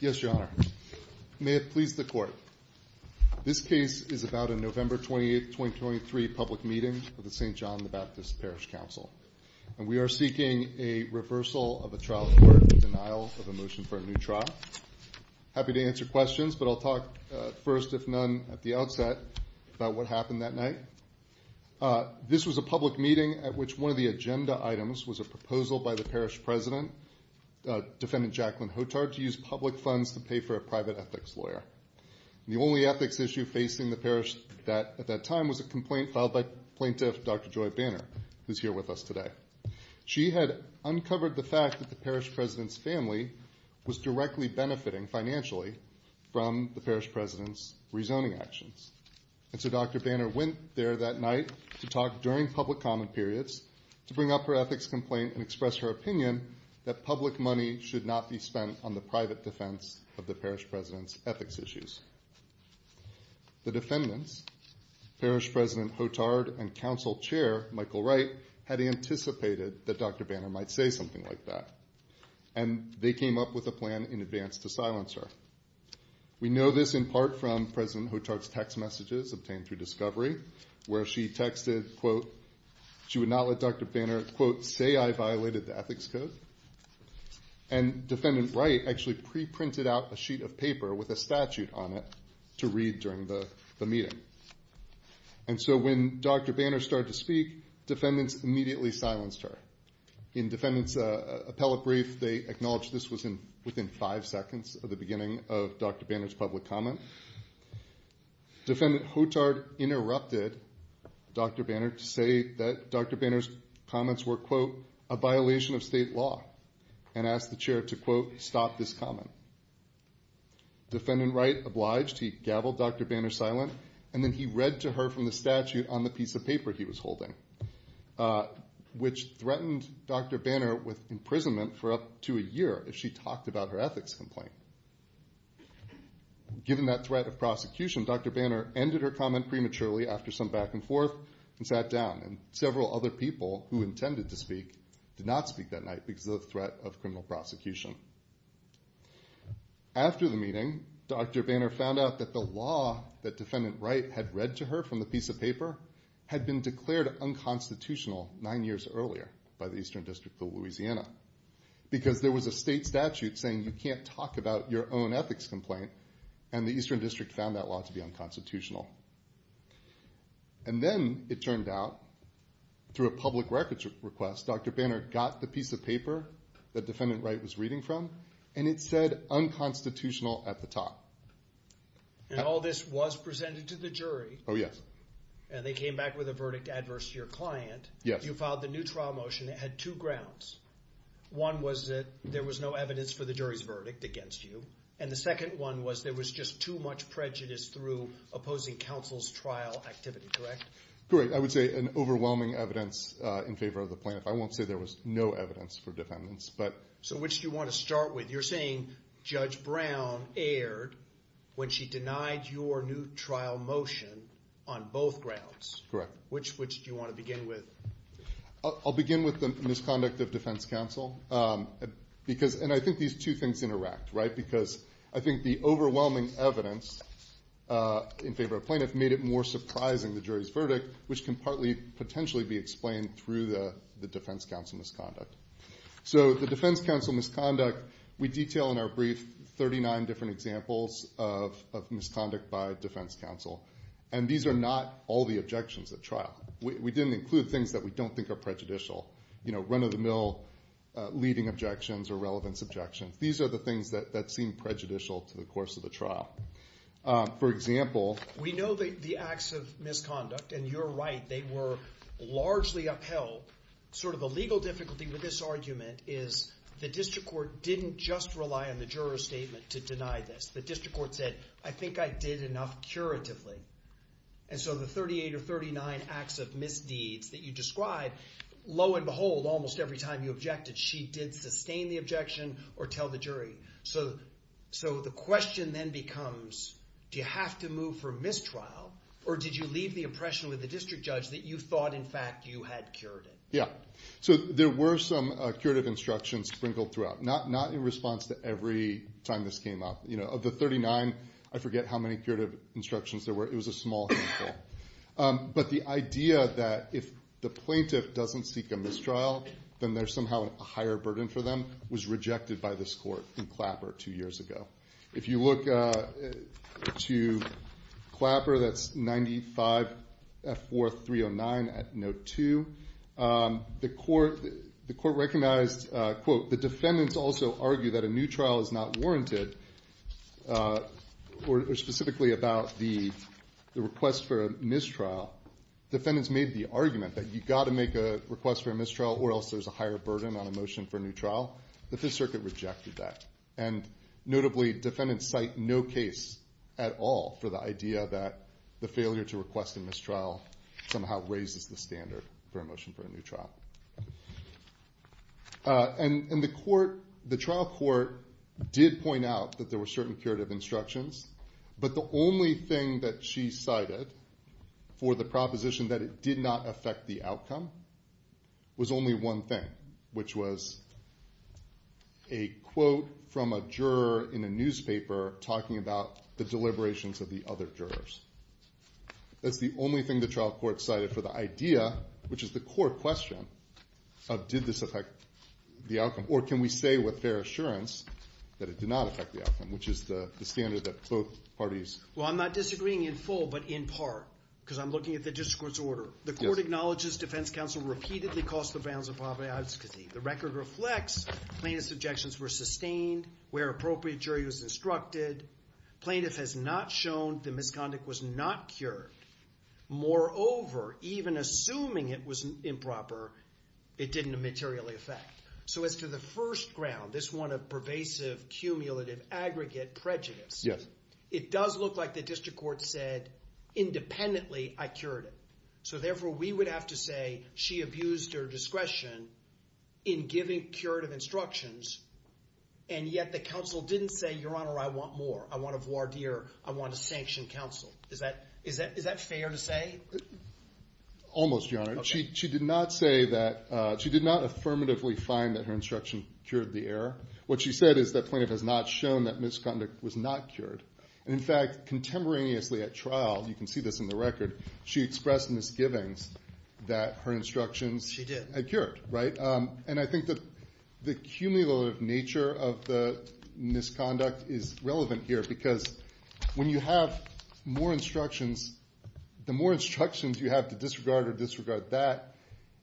Yes, Your Honor. May it please the Court, this case is about a November 28, 2023 public meeting of the St. John the Baptist Parish Council, and we are seeking a reversal of a trial order in denial of a motion for a new trial. Happy to answer questions, but I'll talk first, if none, at the outset about what happened that night. This was a public meeting at which one of the agenda items was a proposal by the parish president, Defendant Jacqueline Hotard, to use public funds to pay for a private ethics lawyer. The only ethics issue facing the parish at that time was a complaint filed by Plaintiff Dr. Joy Banner, who is here with us today. She had uncovered the fact that the parish president's family was directly benefiting, financially, from the parish president's rezoning actions. And so Dr. Banner went there that night to talk during public common periods to bring up her ethics complaint and express her opinion that public money should not be spent on the private defense of the parish president's ethics issues. The defendants, Parish President Hotard and Council Chair Michael Wright, had anticipated that Dr. Banner might say something like that, and they came up with a plan in advance to silence her. We know this in part from President Hotard's text messages obtained through Discovery, where she texted, quote, she would not let Dr. Banner, quote, say I violated the ethics code. And Defendant Wright actually pre-printed out a sheet of paper with a statute on it to read during the meeting. And so when Dr. Banner started to speak, defendants immediately silenced her. In defendants appellate brief, they acknowledged this was within five seconds of the beginning of Dr. Banner's public comment. Defendant Hotard interrupted Dr. Banner to say that Dr. Banner's comments were, quote, a violation of state law, and asked the chair to, quote, stop this comment. Defendant Wright obliged. He gaveled Dr. Banner silent, and then he read to her from the statute on the piece of paper he was holding, which threatened Dr. Banner with imprisonment for up to a year if she talked about her ethics complaint. Given that threat of prosecution, Dr. Banner ended her comment prematurely after some back and forth and sat down, and several other people who intended to speak did not speak that night because of the threat of criminal prosecution. After the meeting, Dr. Banner found out that the law that Defendant Wright had read to her from the piece of paper had been declared unconstitutional nine years earlier by the Eastern District of Louisiana, because there was a state statute saying you can't talk about your own ethics complaint, and the Eastern District found that law to be unconstitutional. And then it turned out, through a public records request, Dr. Banner got the piece of paper that Defendant Wright was reading from, and it said unconstitutional at the top. And all this was presented to the jury. Oh, yes. And they came back with a verdict adverse to your client. Yes. You filed the new trial motion that had two grounds. One was that there was no evidence for the jury's verdict against you, and the second one was there was just too much prejudice through opposing counsel's trial activity, correct? Correct. I would say an overwhelming evidence in favor of the plaintiff. I won't say there was no evidence for defendants, but... So which do you want to start with? You're saying Judge Brown erred when she denied your new trial motion on both grounds. Correct. Which do you want to begin with? I'll begin with the misconduct of defense counsel. And I think these two things interact, right? Because I think the overwhelming evidence in favor of plaintiff made it more surprising the jury's verdict, which can partly potentially be explained through the defense counsel misconduct. So the defense counsel misconduct, we detail in our brief 39 different examples of misconduct by defense counsel. And these are not all the objections at trial. We didn't include things that we don't think are prejudicial. You know, run-of-the-mill leading objections or relevance objections. These are the things that seem prejudicial to the course of the trial. For example... We know the acts of misconduct, and you're right, they were largely upheld. Sort of a legal difficulty with this argument is the district court didn't just rely on the juror's statement to deny this. The district court said, I think I did enough curatively. And so the 38 or 39 acts of misdeeds that you described, lo and behold, almost every time you objected, she did sustain the objection or tell the jury. So the question then becomes, do you have to move for mistrial? Or did you leave the impression with the district judge that you thought, in fact, you had cured it? Yeah. So there were some curative instructions sprinkled throughout. Not in response to every time this came up. Of the 39, I forget how many curative instructions there were. It was a small handful. But the idea that if the plaintiff doesn't seek a mistrial, then there's somehow a higher burden for them, was rejected by this court in Clapper two The court recognized, quote, the defendants also argue that a new trial is not warranted, or specifically about the request for a mistrial. Defendants made the argument that you've got to make a request for a mistrial, or else there's a higher burden on a motion for a new trial. The Fifth Circuit rejected that. And notably, defendants cite no case at all for the idea that the failure to request a mistrial somehow raises the standard for a motion for a new trial. And the trial court did point out that there were certain curative instructions, but the only thing that she cited for the proposition that it did not affect the outcome was only one thing, which was a quote from a juror in a newspaper talking about the deliberations of the other jurors. That's the only thing the trial court cited for the idea, which is the court question, of did this affect the outcome, or can we say with fair assurance that it did not affect the outcome, which is the standard that both parties. Well, I'm not disagreeing in full, but in part, because I'm looking at the district court's order. The court acknowledges defense counsel repeatedly caused the violence of poverty and obscenity. The record reflects plaintiff's objections were sustained where appropriate jury was instructed. Plaintiff has not shown the misconduct was not cured. Moreover, even assuming it was improper, it didn't materially affect. So as to the first ground, this one of pervasive, cumulative, aggregate prejudice, it does look like the district court said independently, I cured it. So therefore, we would have to say she abused her discretion in giving curative instructions, and yet the counsel didn't say, Your Honor, I want more. I want a voir dire. I want a sanctioned counsel. Is that fair to say? Almost, Your Honor. She did not affirmatively find that her instruction cured the error. What she said is that plaintiff has not shown that misconduct was not cured. In fact, contemporaneously at trial, you can see this in the record, she expressed misgivings that her instructions had cured. And I think that the cumulative nature of the misconduct is relevant here because when you have more instructions, the more instructions you have to disregard or disregard that,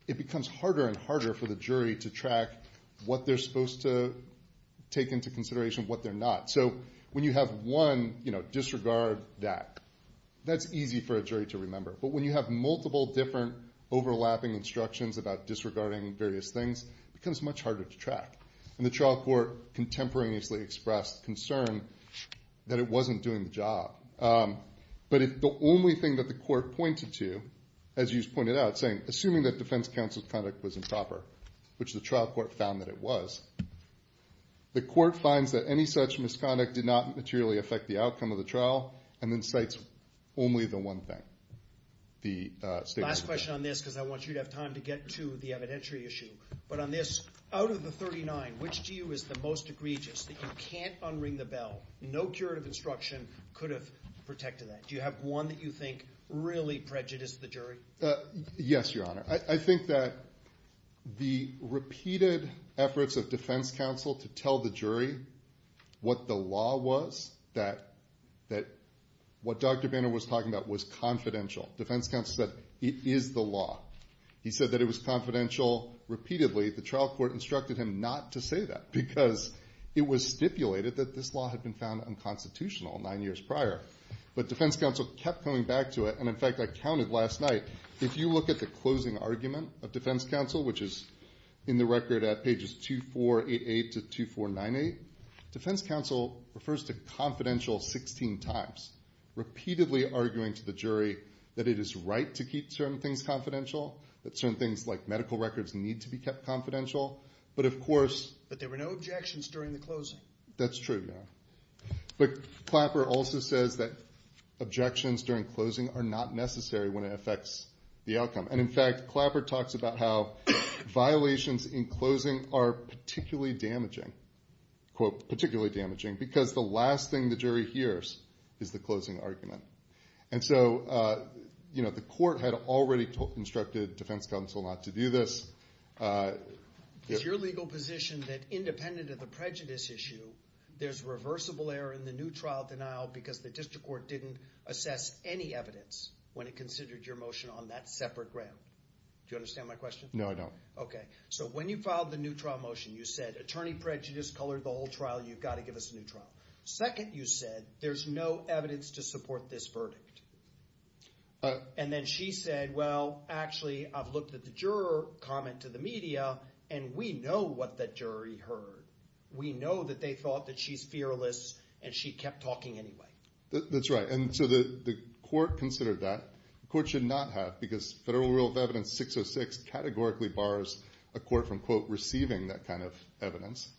it becomes harder and harder for the jury to track what they're supposed to take into consideration, what they're not. So when you have one disregard that, that's easy for a jury to remember. But when you have multiple different overlapping instructions about disregarding various things, it becomes much harder to track. And the trial court contemporaneously expressed concern that it wasn't doing the job. But if the only thing that the court pointed to, as you pointed out, saying, assuming that defense counsel's conduct was improper, which the trial court found that it was, the court finds that any such misconduct did not affect the outcome of the trial, and then cites only the one thing. Last question on this, because I want you to have time to get to the evidentiary issue. But on this, out of the 39, which to you is the most egregious that you can't unring the bell, no curative instruction could have protected that? Do you have one that you think really prejudiced the jury? Yes, Your Honor. I think that the repeated efforts of defense counsel to tell the jury what the law was, that what Dr. Banner was talking about was confidential. Defense counsel said, it is the law. He said that it was confidential repeatedly. The trial court instructed him not to say that because it was stipulated that this law had been found unconstitutional nine years prior. But defense counsel kept coming back to it. And in fact, I counted last night, if you look at the closing argument of defense counsel, which is in the record at pages 2488 to 2498, defense counsel refers to confidential 16 times, repeatedly arguing to the jury that it is right to keep certain things confidential, that certain things like medical records need to be kept confidential. But of course... But there were no objections during the closing. That's true, Your Honor. But Clapper also says that objections during closing are not necessary when it affects the outcome. And in fact, Clapper talks about how violations in closing are particularly damaging, quote, particularly damaging, because the last thing the jury hears is the closing argument. And so, you know, the court had already instructed defense counsel not to do this. It's your legal position that independent of the prejudice issue, there's reversible error in the new trial denial because the district court didn't assess any evidence when it considered your motion on that separate ground. Do you understand my question? No, I don't. Okay. So when you filed the new trial motion, you said attorney prejudice colored the whole trial. You've got to give us a new trial. Second, you said there's no evidence to support this verdict. And then she said, well, actually, I've looked at the juror comment to the media, and we know what the jury heard. We know that they thought that she's fearless, and she kept talking anyway. That's right. And so the court considered that. The court should not have because Federal Rule of Evidence 606 categorically bars a court from, quote, receiving that kind of evidence.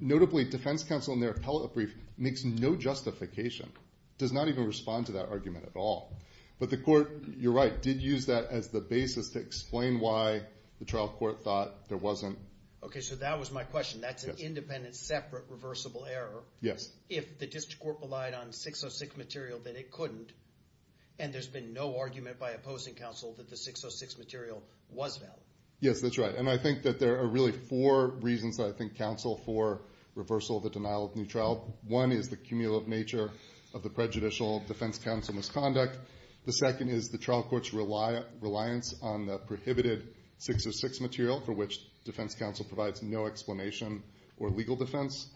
Notably, defense counsel in their appellate brief makes no justification, does not even respond to that argument at all. But the court, you're right, did use that as the basis to explain why the trial court thought there wasn't. Okay. So that was my question. That's an independent, separate, reversible error. Yes. If the district court relied on 606 material that it couldn't, and there's been no argument by opposing counsel that the 606 material was valid. Yes, that's right. And I think that there are really four reasons that I think counsel for reversal of the denial of new trial. One is the cumulative nature of the prejudicial defense counsel misconduct. The second is the trial court's reliance on the prohibited 606 material for which defense counsel provides no explanation or legal defense.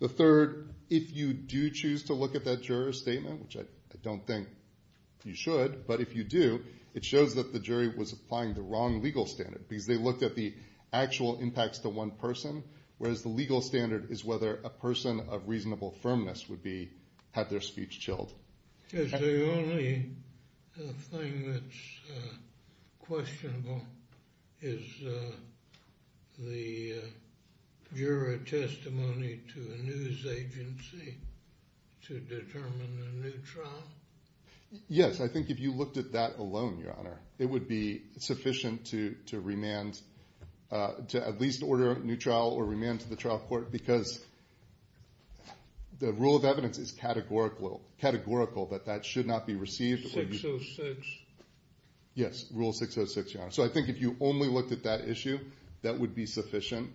The third, if you do choose to that juror's statement, which I don't think you should, but if you do, it shows that the jury was applying the wrong legal standard because they looked at the actual impacts to one person, whereas the legal standard is whether a person of reasonable firmness would be, had their speech chilled. Is the only thing that's questionable is the juror testimony to a news agency to determine a new trial? Yes. I think if you looked at that alone, Your Honor, it would be sufficient to remand, to at least order a new trial or remand to the trial court because the rule of evidence is categorical that that should not be received. 606. Yes, rule 606, Your Honor. So I think if you only looked at that issue, that would be sufficient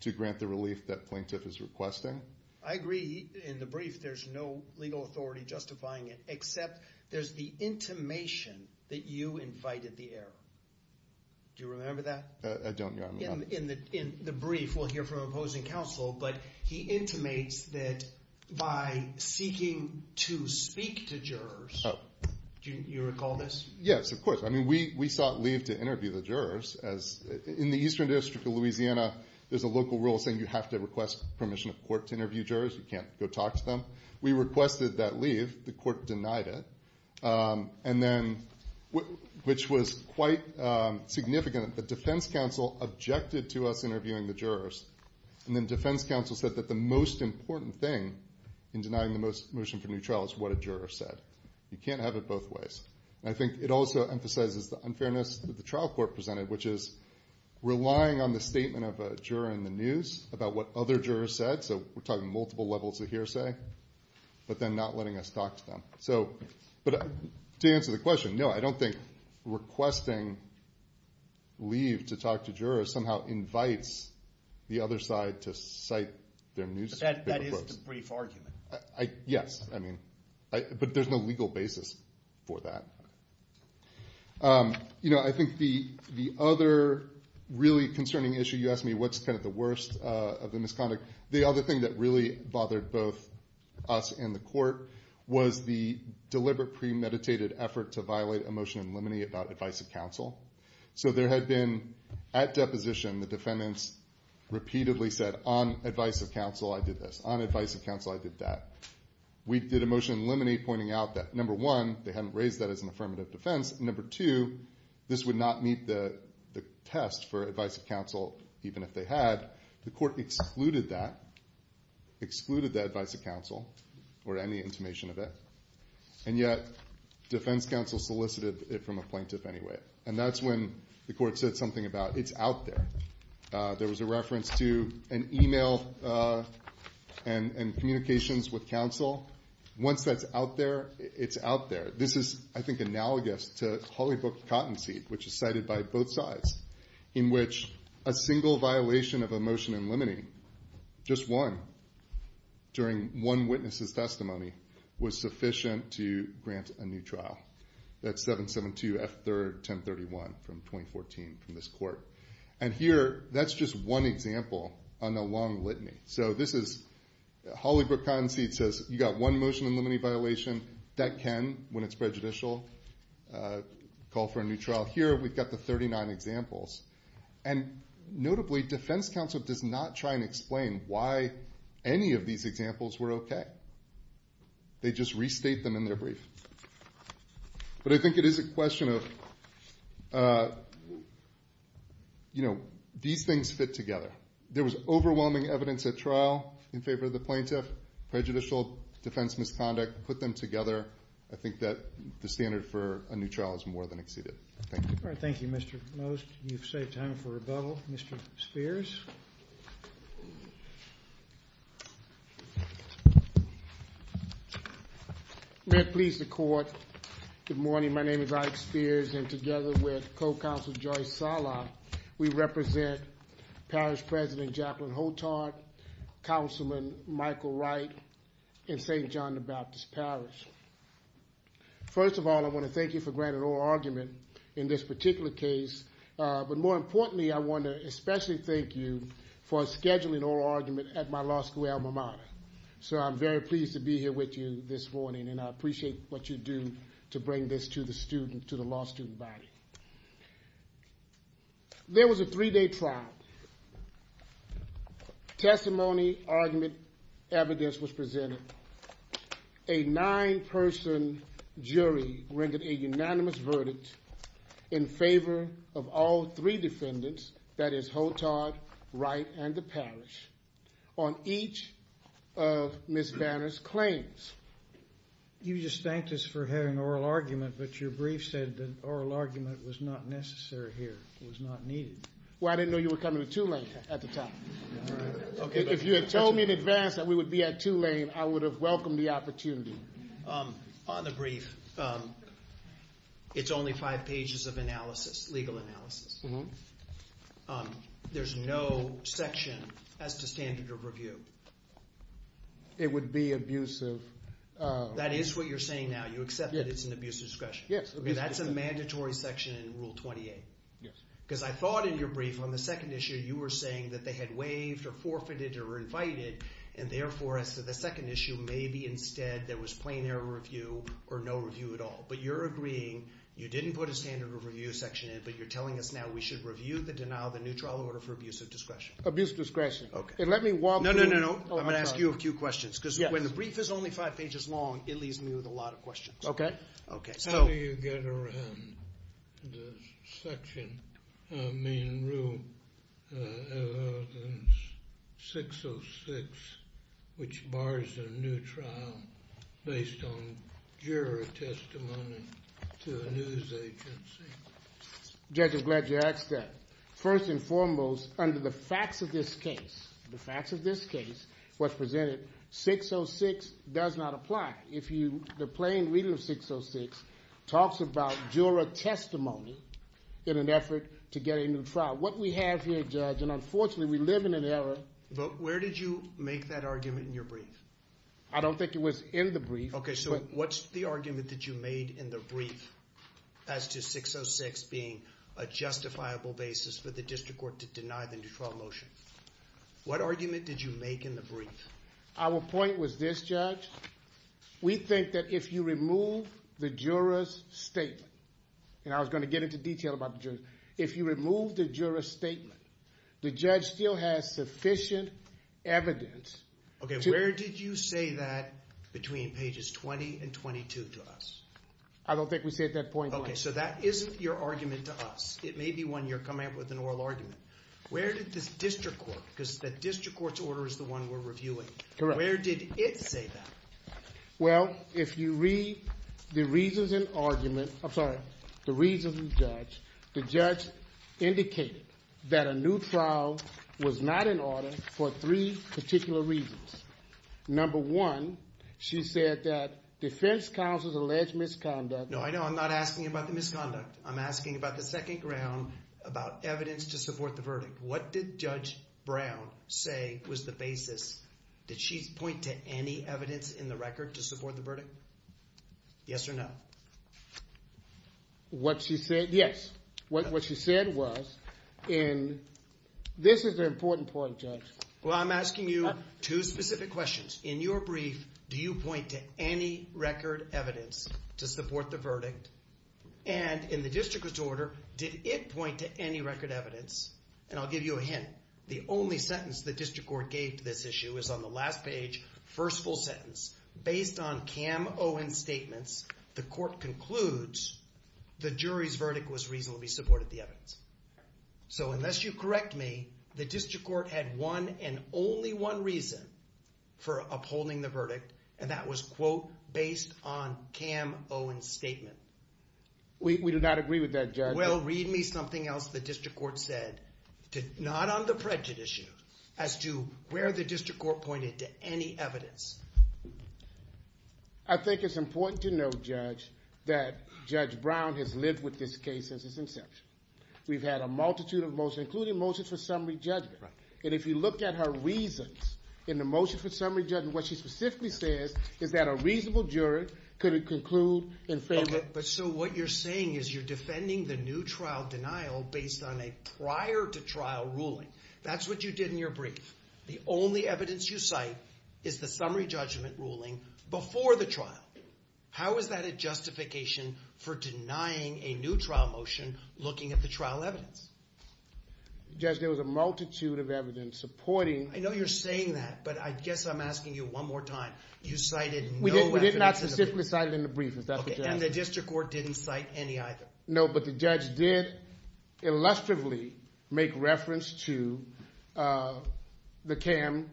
to grant the relief that plaintiff is requesting. I agree. In the brief, there's no legal authority justifying it, except there's the intimation that you invited the error. Do you remember that? I don't, Your Honor. In the brief, we'll hear from opposing counsel, but he intimates that by seeking to speak to jurors, you recall this? Yes, of course. I mean, we sought leave to interview the jurors. In the Eastern District of Louisiana, there's a local rule saying you have to request permission of court to interview jurors. You can't go talk to them. We requested that leave. The court denied it, which was quite significant. The defense counsel objected to us interviewing the jurors, and then defense counsel said that the most important thing in denying the motion for a new trial is what a juror said. You can't have it both ways. I think it also emphasizes the unfairness that the trial court presented, which is relying on the statement of a juror in the news about what other jurors said, so we're talking multiple levels of hearsay, but then not letting us talk to them. But to answer the question, no, I don't think requesting leave to talk to jurors somehow invites the other side to cite their news reports. That is the brief argument. Yes, but there's no legal basis for that. I think the other really concerning issue, you asked me what's the worst of the misconduct. The other thing that really bothered both us and the court was the deliberate premeditated effort to violate a motion in limine about advice of counsel. So there had been, at deposition, the defendants repeatedly said, on advice of counsel, I did this. On advice of counsel, I did that. We did a motion in limine pointing out that, number one, they hadn't raised that as an affirmative defense. Number two, this would not meet the test for advice of counsel, even if they had. The court excluded that, excluded that advice of counsel or any intimation of it. And yet, defense counsel solicited it from a plaintiff anyway. And that's when the court said something about, it's out there. There was a reference to an email and communications with counsel. Once that's out there, it's out there. This is, I think, analogous to Holy Book cottonseed, which is cited by both sides, in which a single violation of a motion in limine, just one, during one witness's testimony, was sufficient to grant a new trial. That's 772 F3rd 1031 from 2014 from this court. And here, that's just one example on the long litany. So this is, Holy Book cottonseed says, you got one motion in limine violation. That can, when it's prejudicial, call for a new trial. Here, we've got the 39 examples. And notably, defense counsel does not try and explain why any of these examples were okay. They just restate them in their brief. But I think it is a question of, you know, these things fit together. There was overwhelming evidence at trial in favor of the plaintiff. Prejudicial defense misconduct put them together. I think that the standard for a new trial is more than exceeded. Thank you. All right. Thank you, Mr. Most. You've saved time for rebuttal. Mr. Spears? May it please the Court. Good morning. My name is Ike Spears, and together with Co-Counsel Joyce Sala, we represent Parish President Jacqueline Holtard, Councilman Michael Wright, and St. John the Baptist Parish. First of all, I want to thank you for granting oral argument in this particular case. But more importantly, I want to especially thank you for scheduling oral argument at my law school alma mater. So I'm very pleased to be here with you this morning, and I appreciate what you do to to the law student body. There was a three-day trial. Testimony, argument, evidence was presented. A nine-person jury rendered a unanimous verdict in favor of all three defendants, that is Holtard, Wright, and the parish, on each of Ms. Vanner's claims. You just thanked us for having oral argument, but your brief said that oral argument was not necessary here, was not needed. Well, I didn't know you were coming to Tulane at the time. If you had told me in advance that we would be at Tulane, I would have welcomed the opportunity. On the brief, it's only five pages of analysis, legal analysis. There's no section as to standard of review. It would be abusive. That is what you're saying now, you accept that it's an abuse of discretion? Yes. Okay, that's a mandatory section in Rule 28? Yes. Because I thought in your brief, on the second issue, you were saying that they had waived or forfeited or invited, and therefore, as to the second issue, maybe instead there was plain error review or no review at all. But you're agreeing, you didn't put a standard of review section in, but you're telling us now we should review the denial of the new trial order for abuse of discretion? Abuse of discretion. Okay. And let me walk through... No, no, no, no. I'm going to ask you a few questions, because when the brief is only five pages long, it leaves me with a lot of questions. Okay. Okay. How do you get around the section, I mean, Rule 606, which bars a new trial based on juror testimony to a news agency? Judge, I'm glad you asked that. First and foremost, under the facts of this case, the facts of this case, what's presented, 606 does not apply. The plain reading of 606 talks about juror testimony in an effort to get a new trial. What we have here, Judge, and unfortunately, we live in an era... But where did you make that argument in your brief? I don't think it was in the brief. Okay, so what's the argument that you in the brief as to 606 being a justifiable basis for the district court to deny the new trial motion? What argument did you make in the brief? Our point was this, Judge, we think that if you remove the juror's statement, and I was going to get into detail about the juror's statement, if you remove the juror's statement, the judge still has sufficient evidence... Okay, where did you say that between pages 20 and 22 to us? I don't think we said that point. Okay, so that isn't your argument to us. It may be one you're coming up with an oral argument. Where did this district court, because the district court's order is the one we're reviewing. Correct. Where did it say that? Well, if you read the reasons and argument, I'm sorry, the reasons and judge, the judge indicated that a new trial was not in order for three particular reasons. Number one, she said that defense counsel's alleged misconduct... No, I know. I'm not asking about the misconduct. I'm asking about the second ground, about evidence to support the verdict. What did Judge Brown say was the basis? Did she point to any evidence in the record to support the verdict? Yes or no? What she said, yes. What she said was, and this is an important point, Judge. Well, I'm asking you two specific questions. In your brief, do you point to any record evidence to support the verdict? And in the district court's order, did it point to any record evidence? And I'll give you a hint. The only sentence the district court gave to this issue is on the last page, first full sentence. Based on Cam Owen's statements, the court concludes the jury's verdict was reasonably supported the evidence. So unless you correct me, the district court had one and only one reason for upholding the verdict, and that was, quote, based on Cam Owen's statement. We do not agree with that, Judge. Well, read me something else the district court said, not on the prejudice issue, as to where the district court pointed to any evidence. I think it's important to note, Judge, that Judge Brown has lived with this case since its inception. We've had a multitude of motions, including motions for summary judgment. And if you look at her reasons in the motion for summary judgment, what she specifically says is that a reasonable jury could conclude in favor. Okay, but so what you're saying is you're defending the new trial denial based on a prior to trial ruling. That's what you did in your brief. The only evidence you cite is the summary judgment ruling before the trial. How is that a justification for denying a new trial motion looking at the trial evidence? Judge, there was a multitude of evidence supporting. I know you're saying that, but I guess I'm asking you one more time. You cited no evidence in the brief. We did not specifically cite it in the brief. Is that the judge? Okay, and the district court didn't cite any either. No, but the judge did illustratively make reference to the CAM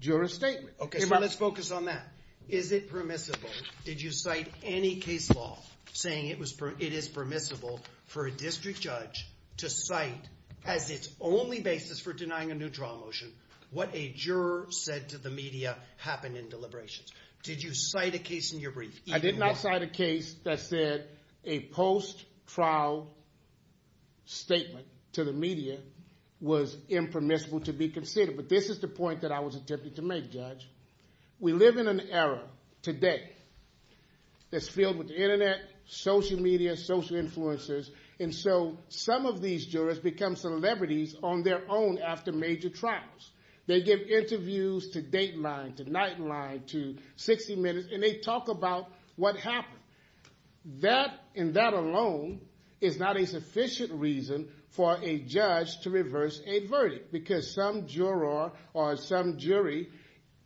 juror statement. Okay, so let's focus on that. Is it permissible, did you cite any case law saying it is permissible for a district judge to cite as its only basis for denying a new trial motion what a juror said to the media happened in deliberations? Did you cite a case in your brief? I did not cite a case that said a post-trial statement to the media was impermissible to be considered, but this is the point that I was attempting to make, Judge. We live in an era today that's filled with the internet, social media, social influences, and so some of these jurors become celebrities on their own after major trials. They give interviews to Dateline, to Nightline, to 60 Minutes, and they talk about what happened. That and that alone is not a sufficient reason for a judge to reverse a verdict because some juror or some jury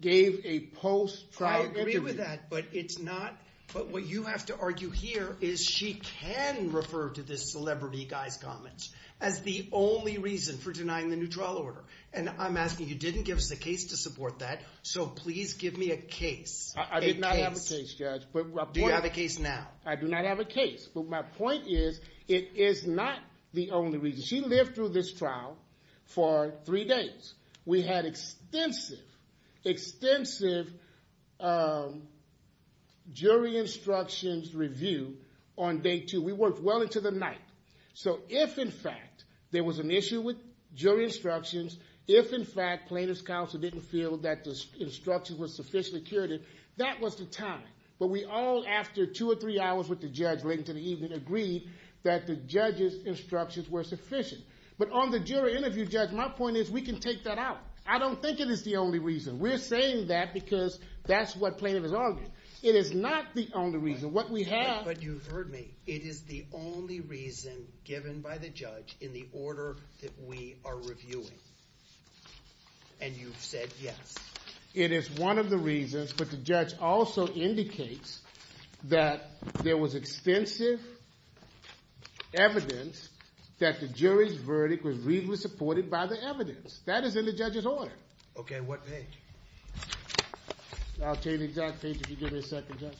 gave a post-trial interview. I agree with that, but it's not, but what you have to argue here is she can refer to this celebrity guy's comments as the only reason for denying the new trial order, and I'm asking you didn't give us a case to support that, so please give me a case. I did not have a case, Judge. Do you have a case now? I do not have a case, but my point is it is not the only reason. She lived through this trial for three days. We had extensive, extensive jury instructions reviewed on day two. We worked well into the night, so if in fact there was an issue with jury instructions, if in fact plaintiff's counsel didn't feel that the instructions were sufficiently curated, that was the time, but we all after two or three hours with the judge late into the evening agreed that the judge's instructions were sufficient, but on the jury interview, Judge, my point is we can take that out. I don't think it is the only reason. We're saying that because that's what plaintiff is arguing. It is not the only reason. What we have... But you've heard me. It is the only reason given by the judge in the order that we are reviewing, and you've said yes. It is one of the reasons, but the judge also indicates that there was extensive evidence that the jury's verdict was reasonably supported by the evidence. That is in the judge's order. Okay, what page? I'll tell you the exact page if you give me a second, Judge.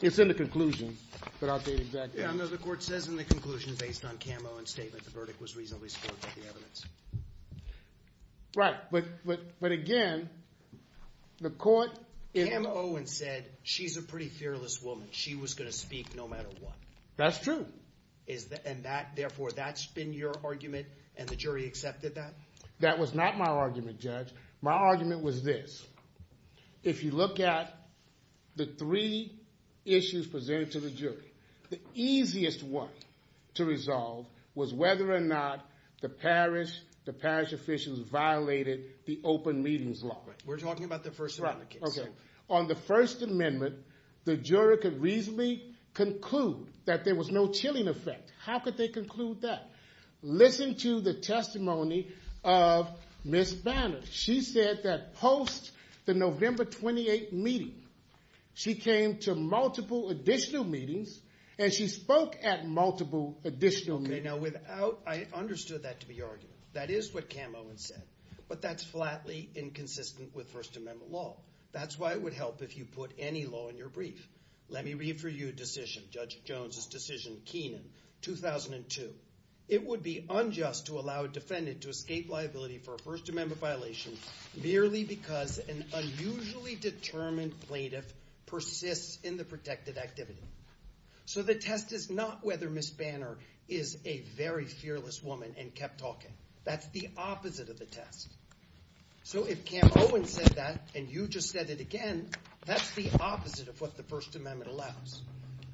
It's in the conclusion, but I'll tell you the exact page. No, the court says in the conclusion based on Cam Owens' statement the verdict was reasonably supported by the evidence. Right, but again, the court... Cam Owens said she's a pretty fearless woman. She was going to speak no matter what. That's true. And therefore, that's been your argument, and the jury accepted that? That was not my argument, Judge. My argument was this. If you look at the three issues presented to the jury, the easiest one to resolve was whether or not the parish officials violated the open meetings law. We're talking about the First Amendment case. Okay. On the First Amendment, the jury could reasonably conclude that there was no chilling effect. How could they conclude that? Listen to the testimony of Ms. Banner. She said that post the November 28th meeting, she came to multiple additional meetings, and she spoke at multiple additional meetings. Okay, now without... I understood that to be your argument. That is what Cam Owens said, but that's flatly inconsistent with First Amendment law. That's why it would help if you put any law in your brief. Let me read for you a decision, Judge Jones's decision, Keenan, 2002. It would be unjust to allow a defendant to escape liability for a First Amendment violation merely because an unusually determined plaintiff persists in the protected activity. So the test is not whether Ms. Banner is a very fearless woman and kept talking. That's the opposite of the test. So if Cam Owens said that, and you just said it that's the opposite of what the First Amendment allows.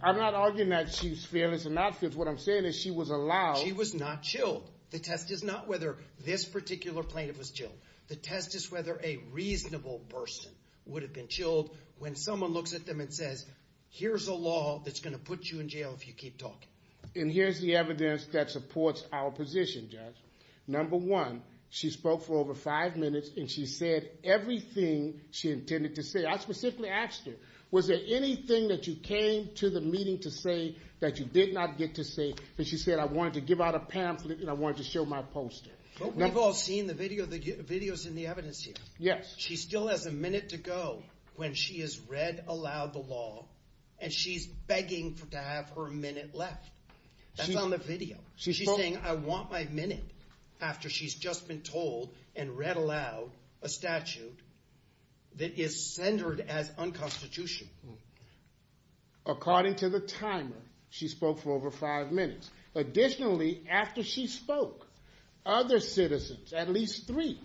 I'm not arguing that she's fearless and not fearless. What I'm saying is she was allowed... She was not chilled. The test is not whether this particular plaintiff was chilled. The test is whether a reasonable person would have been chilled when someone looks at them and says, here's a law that's going to put you in jail if you keep talking. And here's the evidence that supports our position, Judge. Number one, she spoke for over five minutes and she said everything she intended to say. I specifically asked her, was there anything that you came to the meeting to say that you did not get to say? And she said, I wanted to give out a pamphlet and I wanted to show my poster. But we've all seen the videos in the evidence here. Yes. She still has a minute to go when she has read aloud the law and she's begging for to have her minute left. That's on the video. She's saying, I want my minute after she's just been told and read aloud a statute that is centered as unconstitutional. According to the timer, she spoke for over five minutes. Additionally, after she spoke, other citizens, at least three,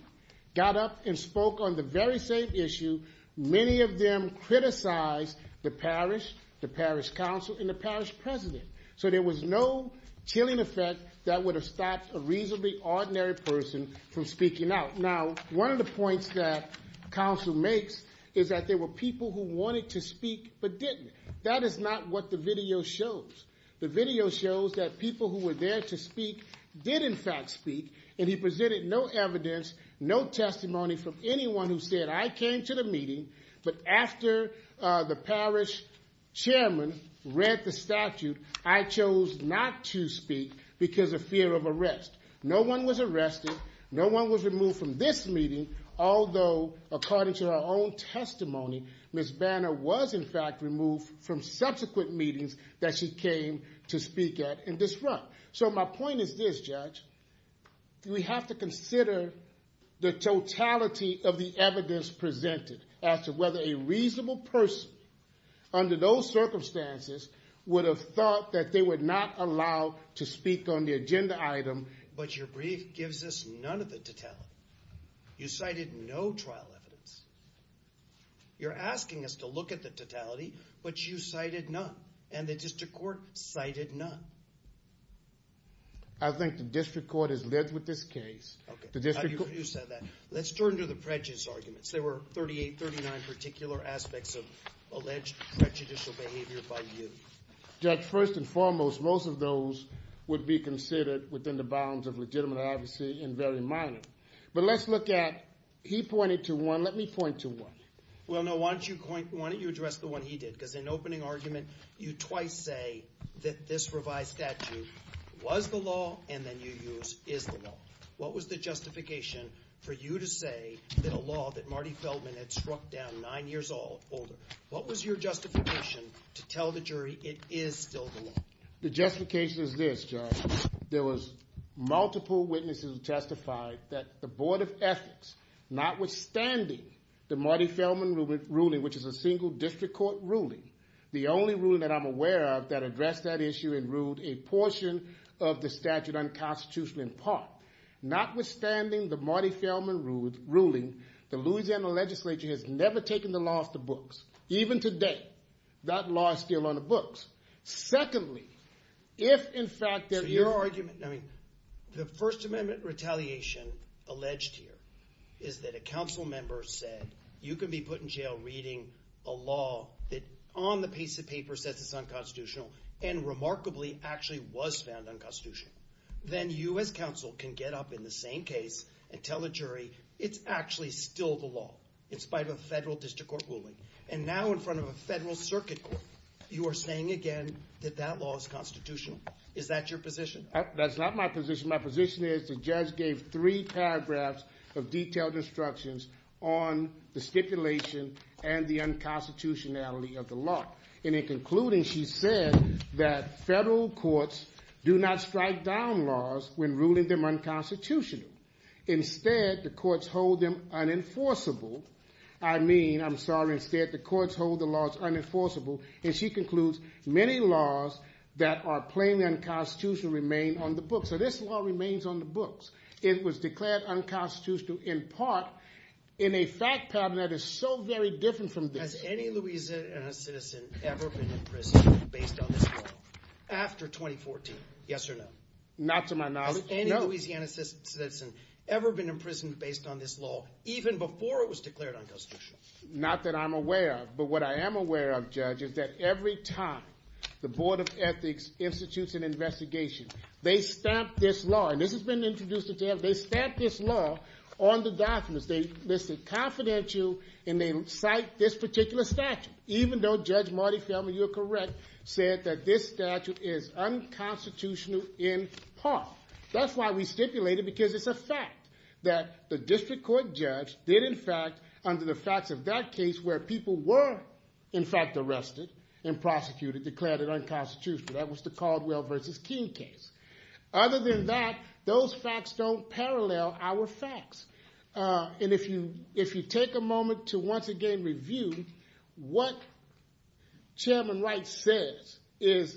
got up and spoke on the very same issue. Many of them criticized the parish, the parish council, and the parish president. So there was no chilling effect that would have stopped a reasonably ordinary person from speaking out. Now, one of the points that counsel makes is that there were people who wanted to speak but didn't. That is not what the video shows. The video shows that people who were there to speak did, in fact, speak. And he presented no evidence, no testimony from anyone who said, I came to the meeting, but after the parish chairman read the statute, I chose not to speak because of fear of arrest. No one was arrested. No one was removed from this meeting. Although, according to her own testimony, Ms. Banner was, in fact, removed from subsequent meetings that she came to speak at and disrupt. So my point is this, Judge. We have to consider the totality of the evidence presented as to whether a reasonable person, under those circumstances, would have thought that they were not allowed to speak on the agenda item. But your brief gives us none of the totality. You cited no trial evidence. You're asking us to look at the totality, but you cited none. And the district court cited none. I think the district court is led with this case. Okay. You said that. Let's turn to the prejudice arguments. There were 38, 39 particular aspects of alleged prejudicial behavior by you. Judge, first and foremost, most of those would be considered within the bounds of legitimate obviously and very minor. But let's look at, he pointed to one. Let me point to one. Well, no. Why don't you address the one he did? Because in opening argument, you twice say that this revised statute was the law, and then you use is the law. What was the justification for you to say that a law that Marty Feldman had struck down nine years older, what was your justification to tell the jury it is still the law? The justification is this, Judge. There was multiple witnesses who testified that the Board of Ethics, notwithstanding the Marty Feldman ruling, which is a single district court ruling, the only ruling that I'm aware of that addressed that issue and ruled a portion of the statute unconstitutional in part. Notwithstanding the Marty Feldman ruling, the Louisiana legislature has never taken the law off the books. Even today, that law is still on the books. Secondly, if in fact there is... So your argument, I mean, the First Amendment retaliation alleged here is that a council member said, you can be put in jail reading a law that on the piece of paper says it's unconstitutional and remarkably actually was found unconstitutional. Then you as council can get up in the same case and tell the jury it's actually still the law in spite of a federal district court ruling. And now in front of a federal circuit court, you are saying again that that law is constitutional. Is that your position? That's not my position. My position is the judge gave three paragraphs of detailed instructions on the stipulation and the unconstitutionality of the law. And in concluding, she said that federal courts do not strike down laws when ruling them unconstitutional. Instead, the courts hold them unenforceable. I mean, I'm sorry, instead the courts hold the laws unenforceable. And she concludes many laws that are plainly unconstitutional remain on the books. This law remains on the books. It was declared unconstitutional in part in a fact pattern that is so very different from this. Has any Louisiana citizen ever been in prison based on this law after 2014? Yes or no? Not to my knowledge, no. Has any Louisiana citizen ever been in prison based on this law even before it was declared unconstitutional? Not that I'm aware of. But what I am aware of, Judge, is that every time the Board of Ethics institutes an investigation, they stamp this law. And this has been introduced in jail. They stamp this law on the documents. They list it confidential, and they cite this particular statute, even though Judge Marty Feldman, you're correct, said that this statute is unconstitutional in part. That's why we stipulate it, because it's a fact that the district court judge did, in fact, under the facts of that case where people were, in fact, arrested and prosecuted, declared it unconstitutional. That was the Caldwell v. King case. Other than that, those facts don't parallel our facts. And if you take a moment to once again review what Chairman Wright says is,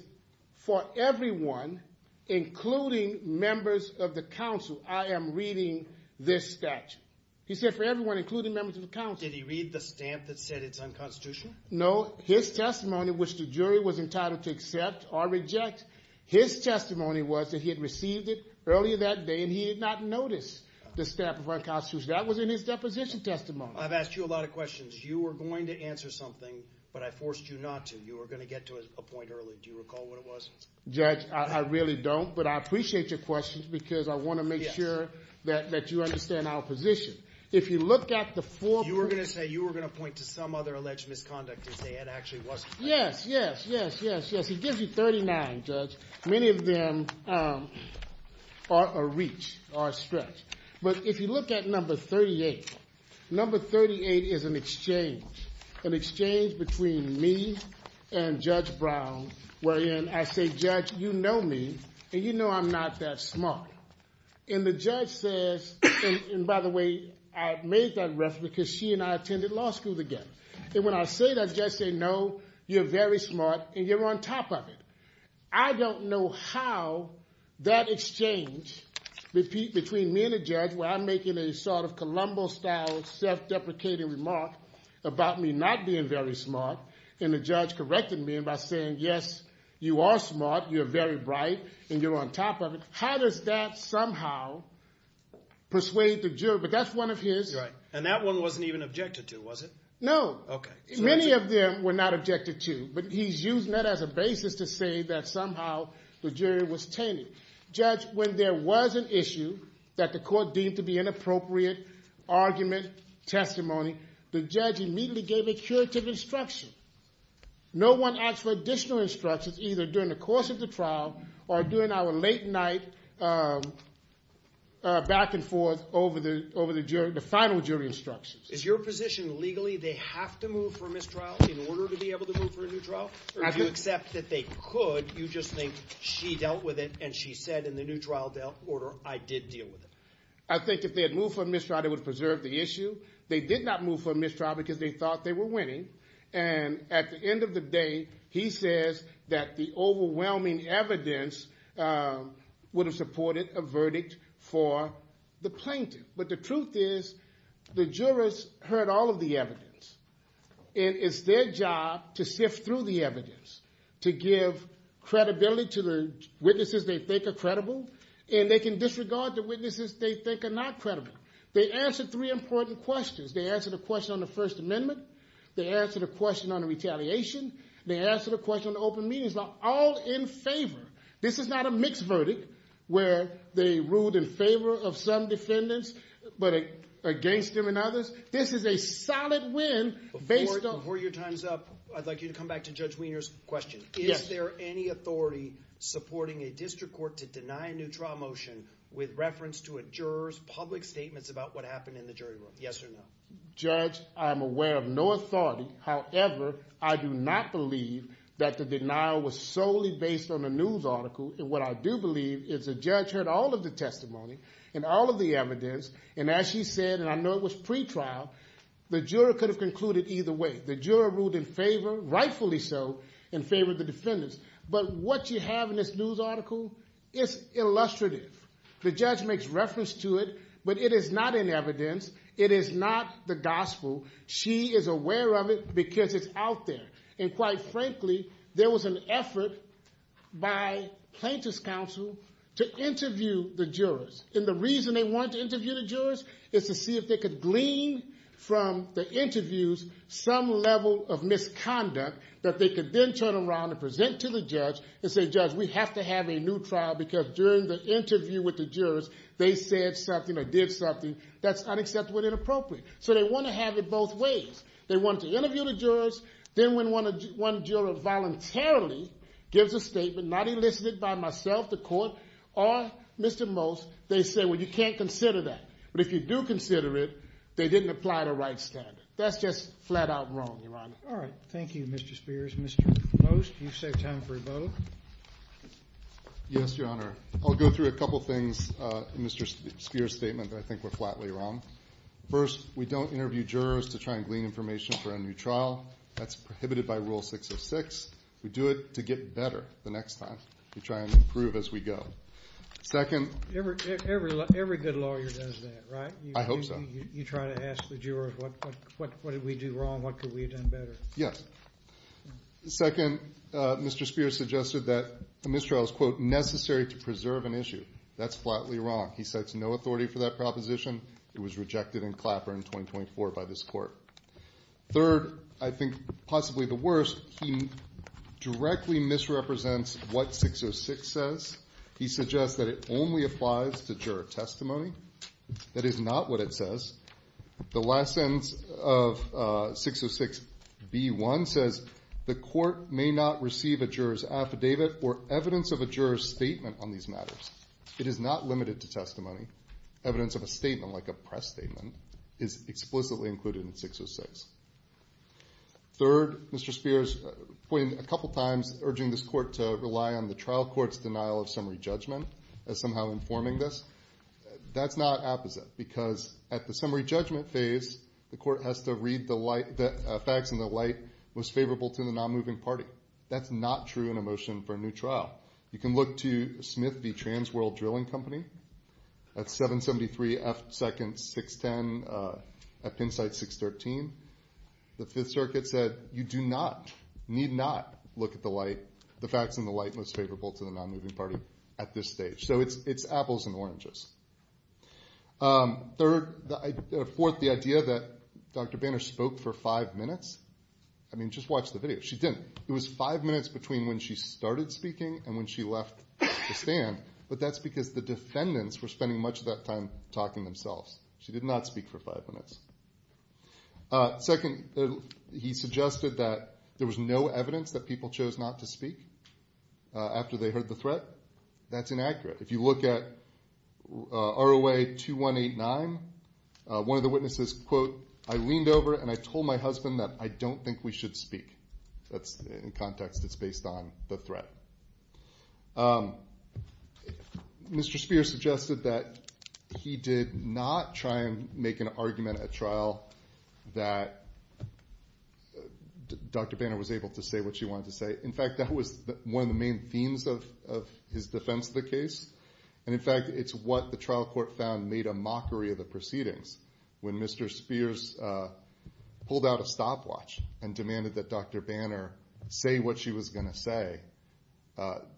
for everyone, including members of the council, I am reading this statute. He said for everyone, including members of the council. Did he read the stamp that said it's unconstitutional? No. His testimony, which the jury was entitled to accept or reject, his testimony was that he had received it earlier that day, and he had not noticed the stamp of unconstitution. That was in his deposition testimony. I've asked you a lot of questions. You were going to answer something, but I forced you not to. You were going to get to a point early. Do you recall what it was? Judge, I really don't, but I appreciate your questions, because I want to make sure that you understand our position. If you look at the four... You were going to point to some other alleged misconduct, and say it actually wasn't. Yes, yes, yes, yes, yes. He gives you 39, Judge. Many of them are a reach, are a stretch. But if you look at number 38, number 38 is an exchange, an exchange between me and Judge Brown, wherein I say, Judge, you know me, and you know I'm not that smart. And the judge says, and by the way, I made that reference, because she and I attended law school together. And when I say that, Judge says, no, you're very smart, and you're on top of it. I don't know how that exchange between me and the judge, where I'm making a sort of Columbo-style, self-deprecating remark about me not being very smart, and the judge correcting me by saying, yes, you are smart, you're very bright, and you're on top of it. How does that somehow persuade the jury? But that's one of his. And that one wasn't even objected to, was it? No. Many of them were not objected to, but he's using that as a basis to say that somehow the jury was tainted. Judge, when there was an issue that the court deemed to be inappropriate, argument, testimony, the judge immediately gave a curative instruction. No one asked for additional instructions, either during the course of the or during our late night back and forth over the final jury instructions. Is your position legally they have to move for mistrial in order to be able to move for a new trial? Or do you accept that they could, you just think she dealt with it, and she said in the new trial order, I did deal with it? I think if they had moved for a mistrial, they would have preserved the issue. They did not move for a mistrial, because they thought they were winning. And at the end of the day, he says that the overwhelming evidence would have supported a verdict for the plaintiff. But the truth is, the jurors heard all of the evidence. And it's their job to sift through the evidence, to give credibility to the witnesses they think are credible. And they can disregard the witnesses they think are not credible. They answered three important questions. They answered a question on They answered a question on the retaliation. They answered a question on the open meetings. They're all in favor. This is not a mixed verdict, where they ruled in favor of some defendants, but against them and others. This is a solid win. Before your time's up, I'd like you to come back to Judge Wiener's question. Is there any authority supporting a district court to deny a new trial motion with reference to a juror's public statements about what happened in the jury room? Yes or no? Judge, I'm aware of no authority. However, I do not believe that the denial was solely based on a news article. And what I do believe is the judge heard all of the testimony and all of the evidence. And as she said, and I know it was pretrial, the juror could have concluded either way. The juror ruled in favor, rightfully so, in favor of the defendants. But what you have in this news article, it's illustrative. The judge makes reference to it, but it is not in evidence. It is not the gospel. She is aware of it because it's out there. And quite frankly, there was an effort by plaintiff's counsel to interview the jurors. And the reason they wanted to interview the jurors is to see if they could glean from the interviews some level of misconduct that they could then turn around and present to the judge and say, judge, we have to have a new trial because during the interview with the jurors, they said something or did something that's unacceptable and inappropriate. So they want to have it both ways. They want to interview the jurors. Then when one juror voluntarily gives a statement, not elicited by myself, the court, or Mr. Most, they say, well, you can't consider that. But if you do consider it, they didn't apply the right standard. That's just flat out wrong, Your Honor. All right. Thank you, Mr. Spears. Mr. Most, you've saved time for a vote. Yes, Your Honor. I'll go through a couple of things in Mr. Spears' statement that I think are flatly wrong. First, we don't interview jurors to try and glean information for a new trial. That's prohibited by Rule 606. We do it to get better the next time. We try and improve as we go. Second— Every good lawyer does that, right? I hope so. You try to ask the jurors, what did we do wrong? What could we have done better? Yes. Second, Mr. Spears suggested that the mistrial is, quote, necessary to preserve an issue. That's flatly wrong. He sets no authority for that proposition. It was rejected in Clapper in 2024 by this Court. Third, I think possibly the worst, he directly misrepresents what 606 says. He suggests that it only applies to juror testimony. That is not what it says. The last sentence of 606B1 says the Court may not receive a juror's affidavit or evidence of a juror's statement on these matters. It is not limited to testimony. Evidence of a statement, like a press statement, is explicitly included in 606. Third, Mr. Spears pointed a couple times, urging this Court to rely on the trial court's denial of summary judgment as somehow informing this. That's not apposite because at the summary judgment phase, the Court has to read the facts in the light most favorable to the non-moving party. That's not true in a motion for a new trial. You can look to Smith v. Transworld Drilling Company. That's 773F2nd 610 at Pinside 613. The Fifth Circuit said you do not, need not, look at the light, the facts in the light most favorable to the non-moving party at this stage. So it's apples and oranges. Fourth, the idea that Dr. Banner spoke for five minutes. I mean, just watch the video. She didn't. It was five minutes between when she started speaking and when she left the stand. But that's because the defendants were spending much of that time talking themselves. She did not speak for five minutes. Second, he suggested that there was no evidence that people chose not to speak after they heard the threat. That's inaccurate. If you look at ROA 2189, one of the witnesses, quote, I leaned over and I told my husband that I don't think we should speak. That's in context. It's based on the threat. Mr. Spears suggested that he did not try and make an argument at trial that Dr. Banner was able to say what she wanted to say. In fact, that was one of the main themes of his defense of the case. And in fact, it's what the trial court found made a mockery of the proceedings. When Mr. Spears pulled out a stopwatch and demanded that Dr. Banner say what she was going to say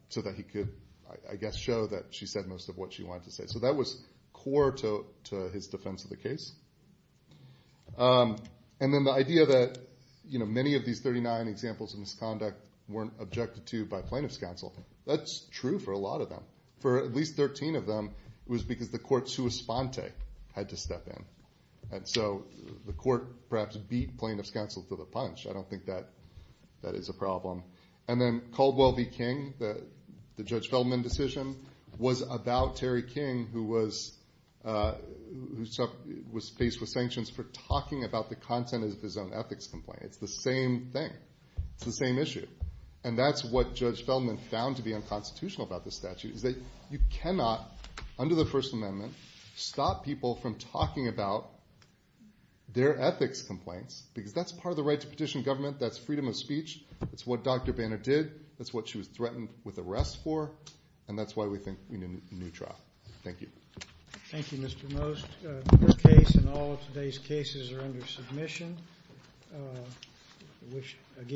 so that he could, I guess, show that she said most of what she wanted to say. So that was core to his defense of the case. And then the idea that, you know, many of these 39 examples of misconduct weren't objected to by plaintiff's counsel. That's true for a lot of them. For at least 13 of them, it was because the court's sua sponte had to step in. And so the court perhaps beat plaintiff's counsel to the punch. I don't think that that is a problem. And then Caldwell v. King, the Judge Feldman decision, was about Terry King, who was faced with sanctions for talking about the content of his own ethics complaint. It's the same thing. It's the same issue. And that's what Judge Feldman found to be constitutional about this statute, is that you cannot, under the First Amendment, stop people from talking about their ethics complaints, because that's part of the right to petition government. That's freedom of speech. That's what Dr. Banner did. That's what she was threatened with arrest for. And that's why we think we need a new trial. Thank you. Thank you, Mr. Most. This case and all of today's cases are under submission.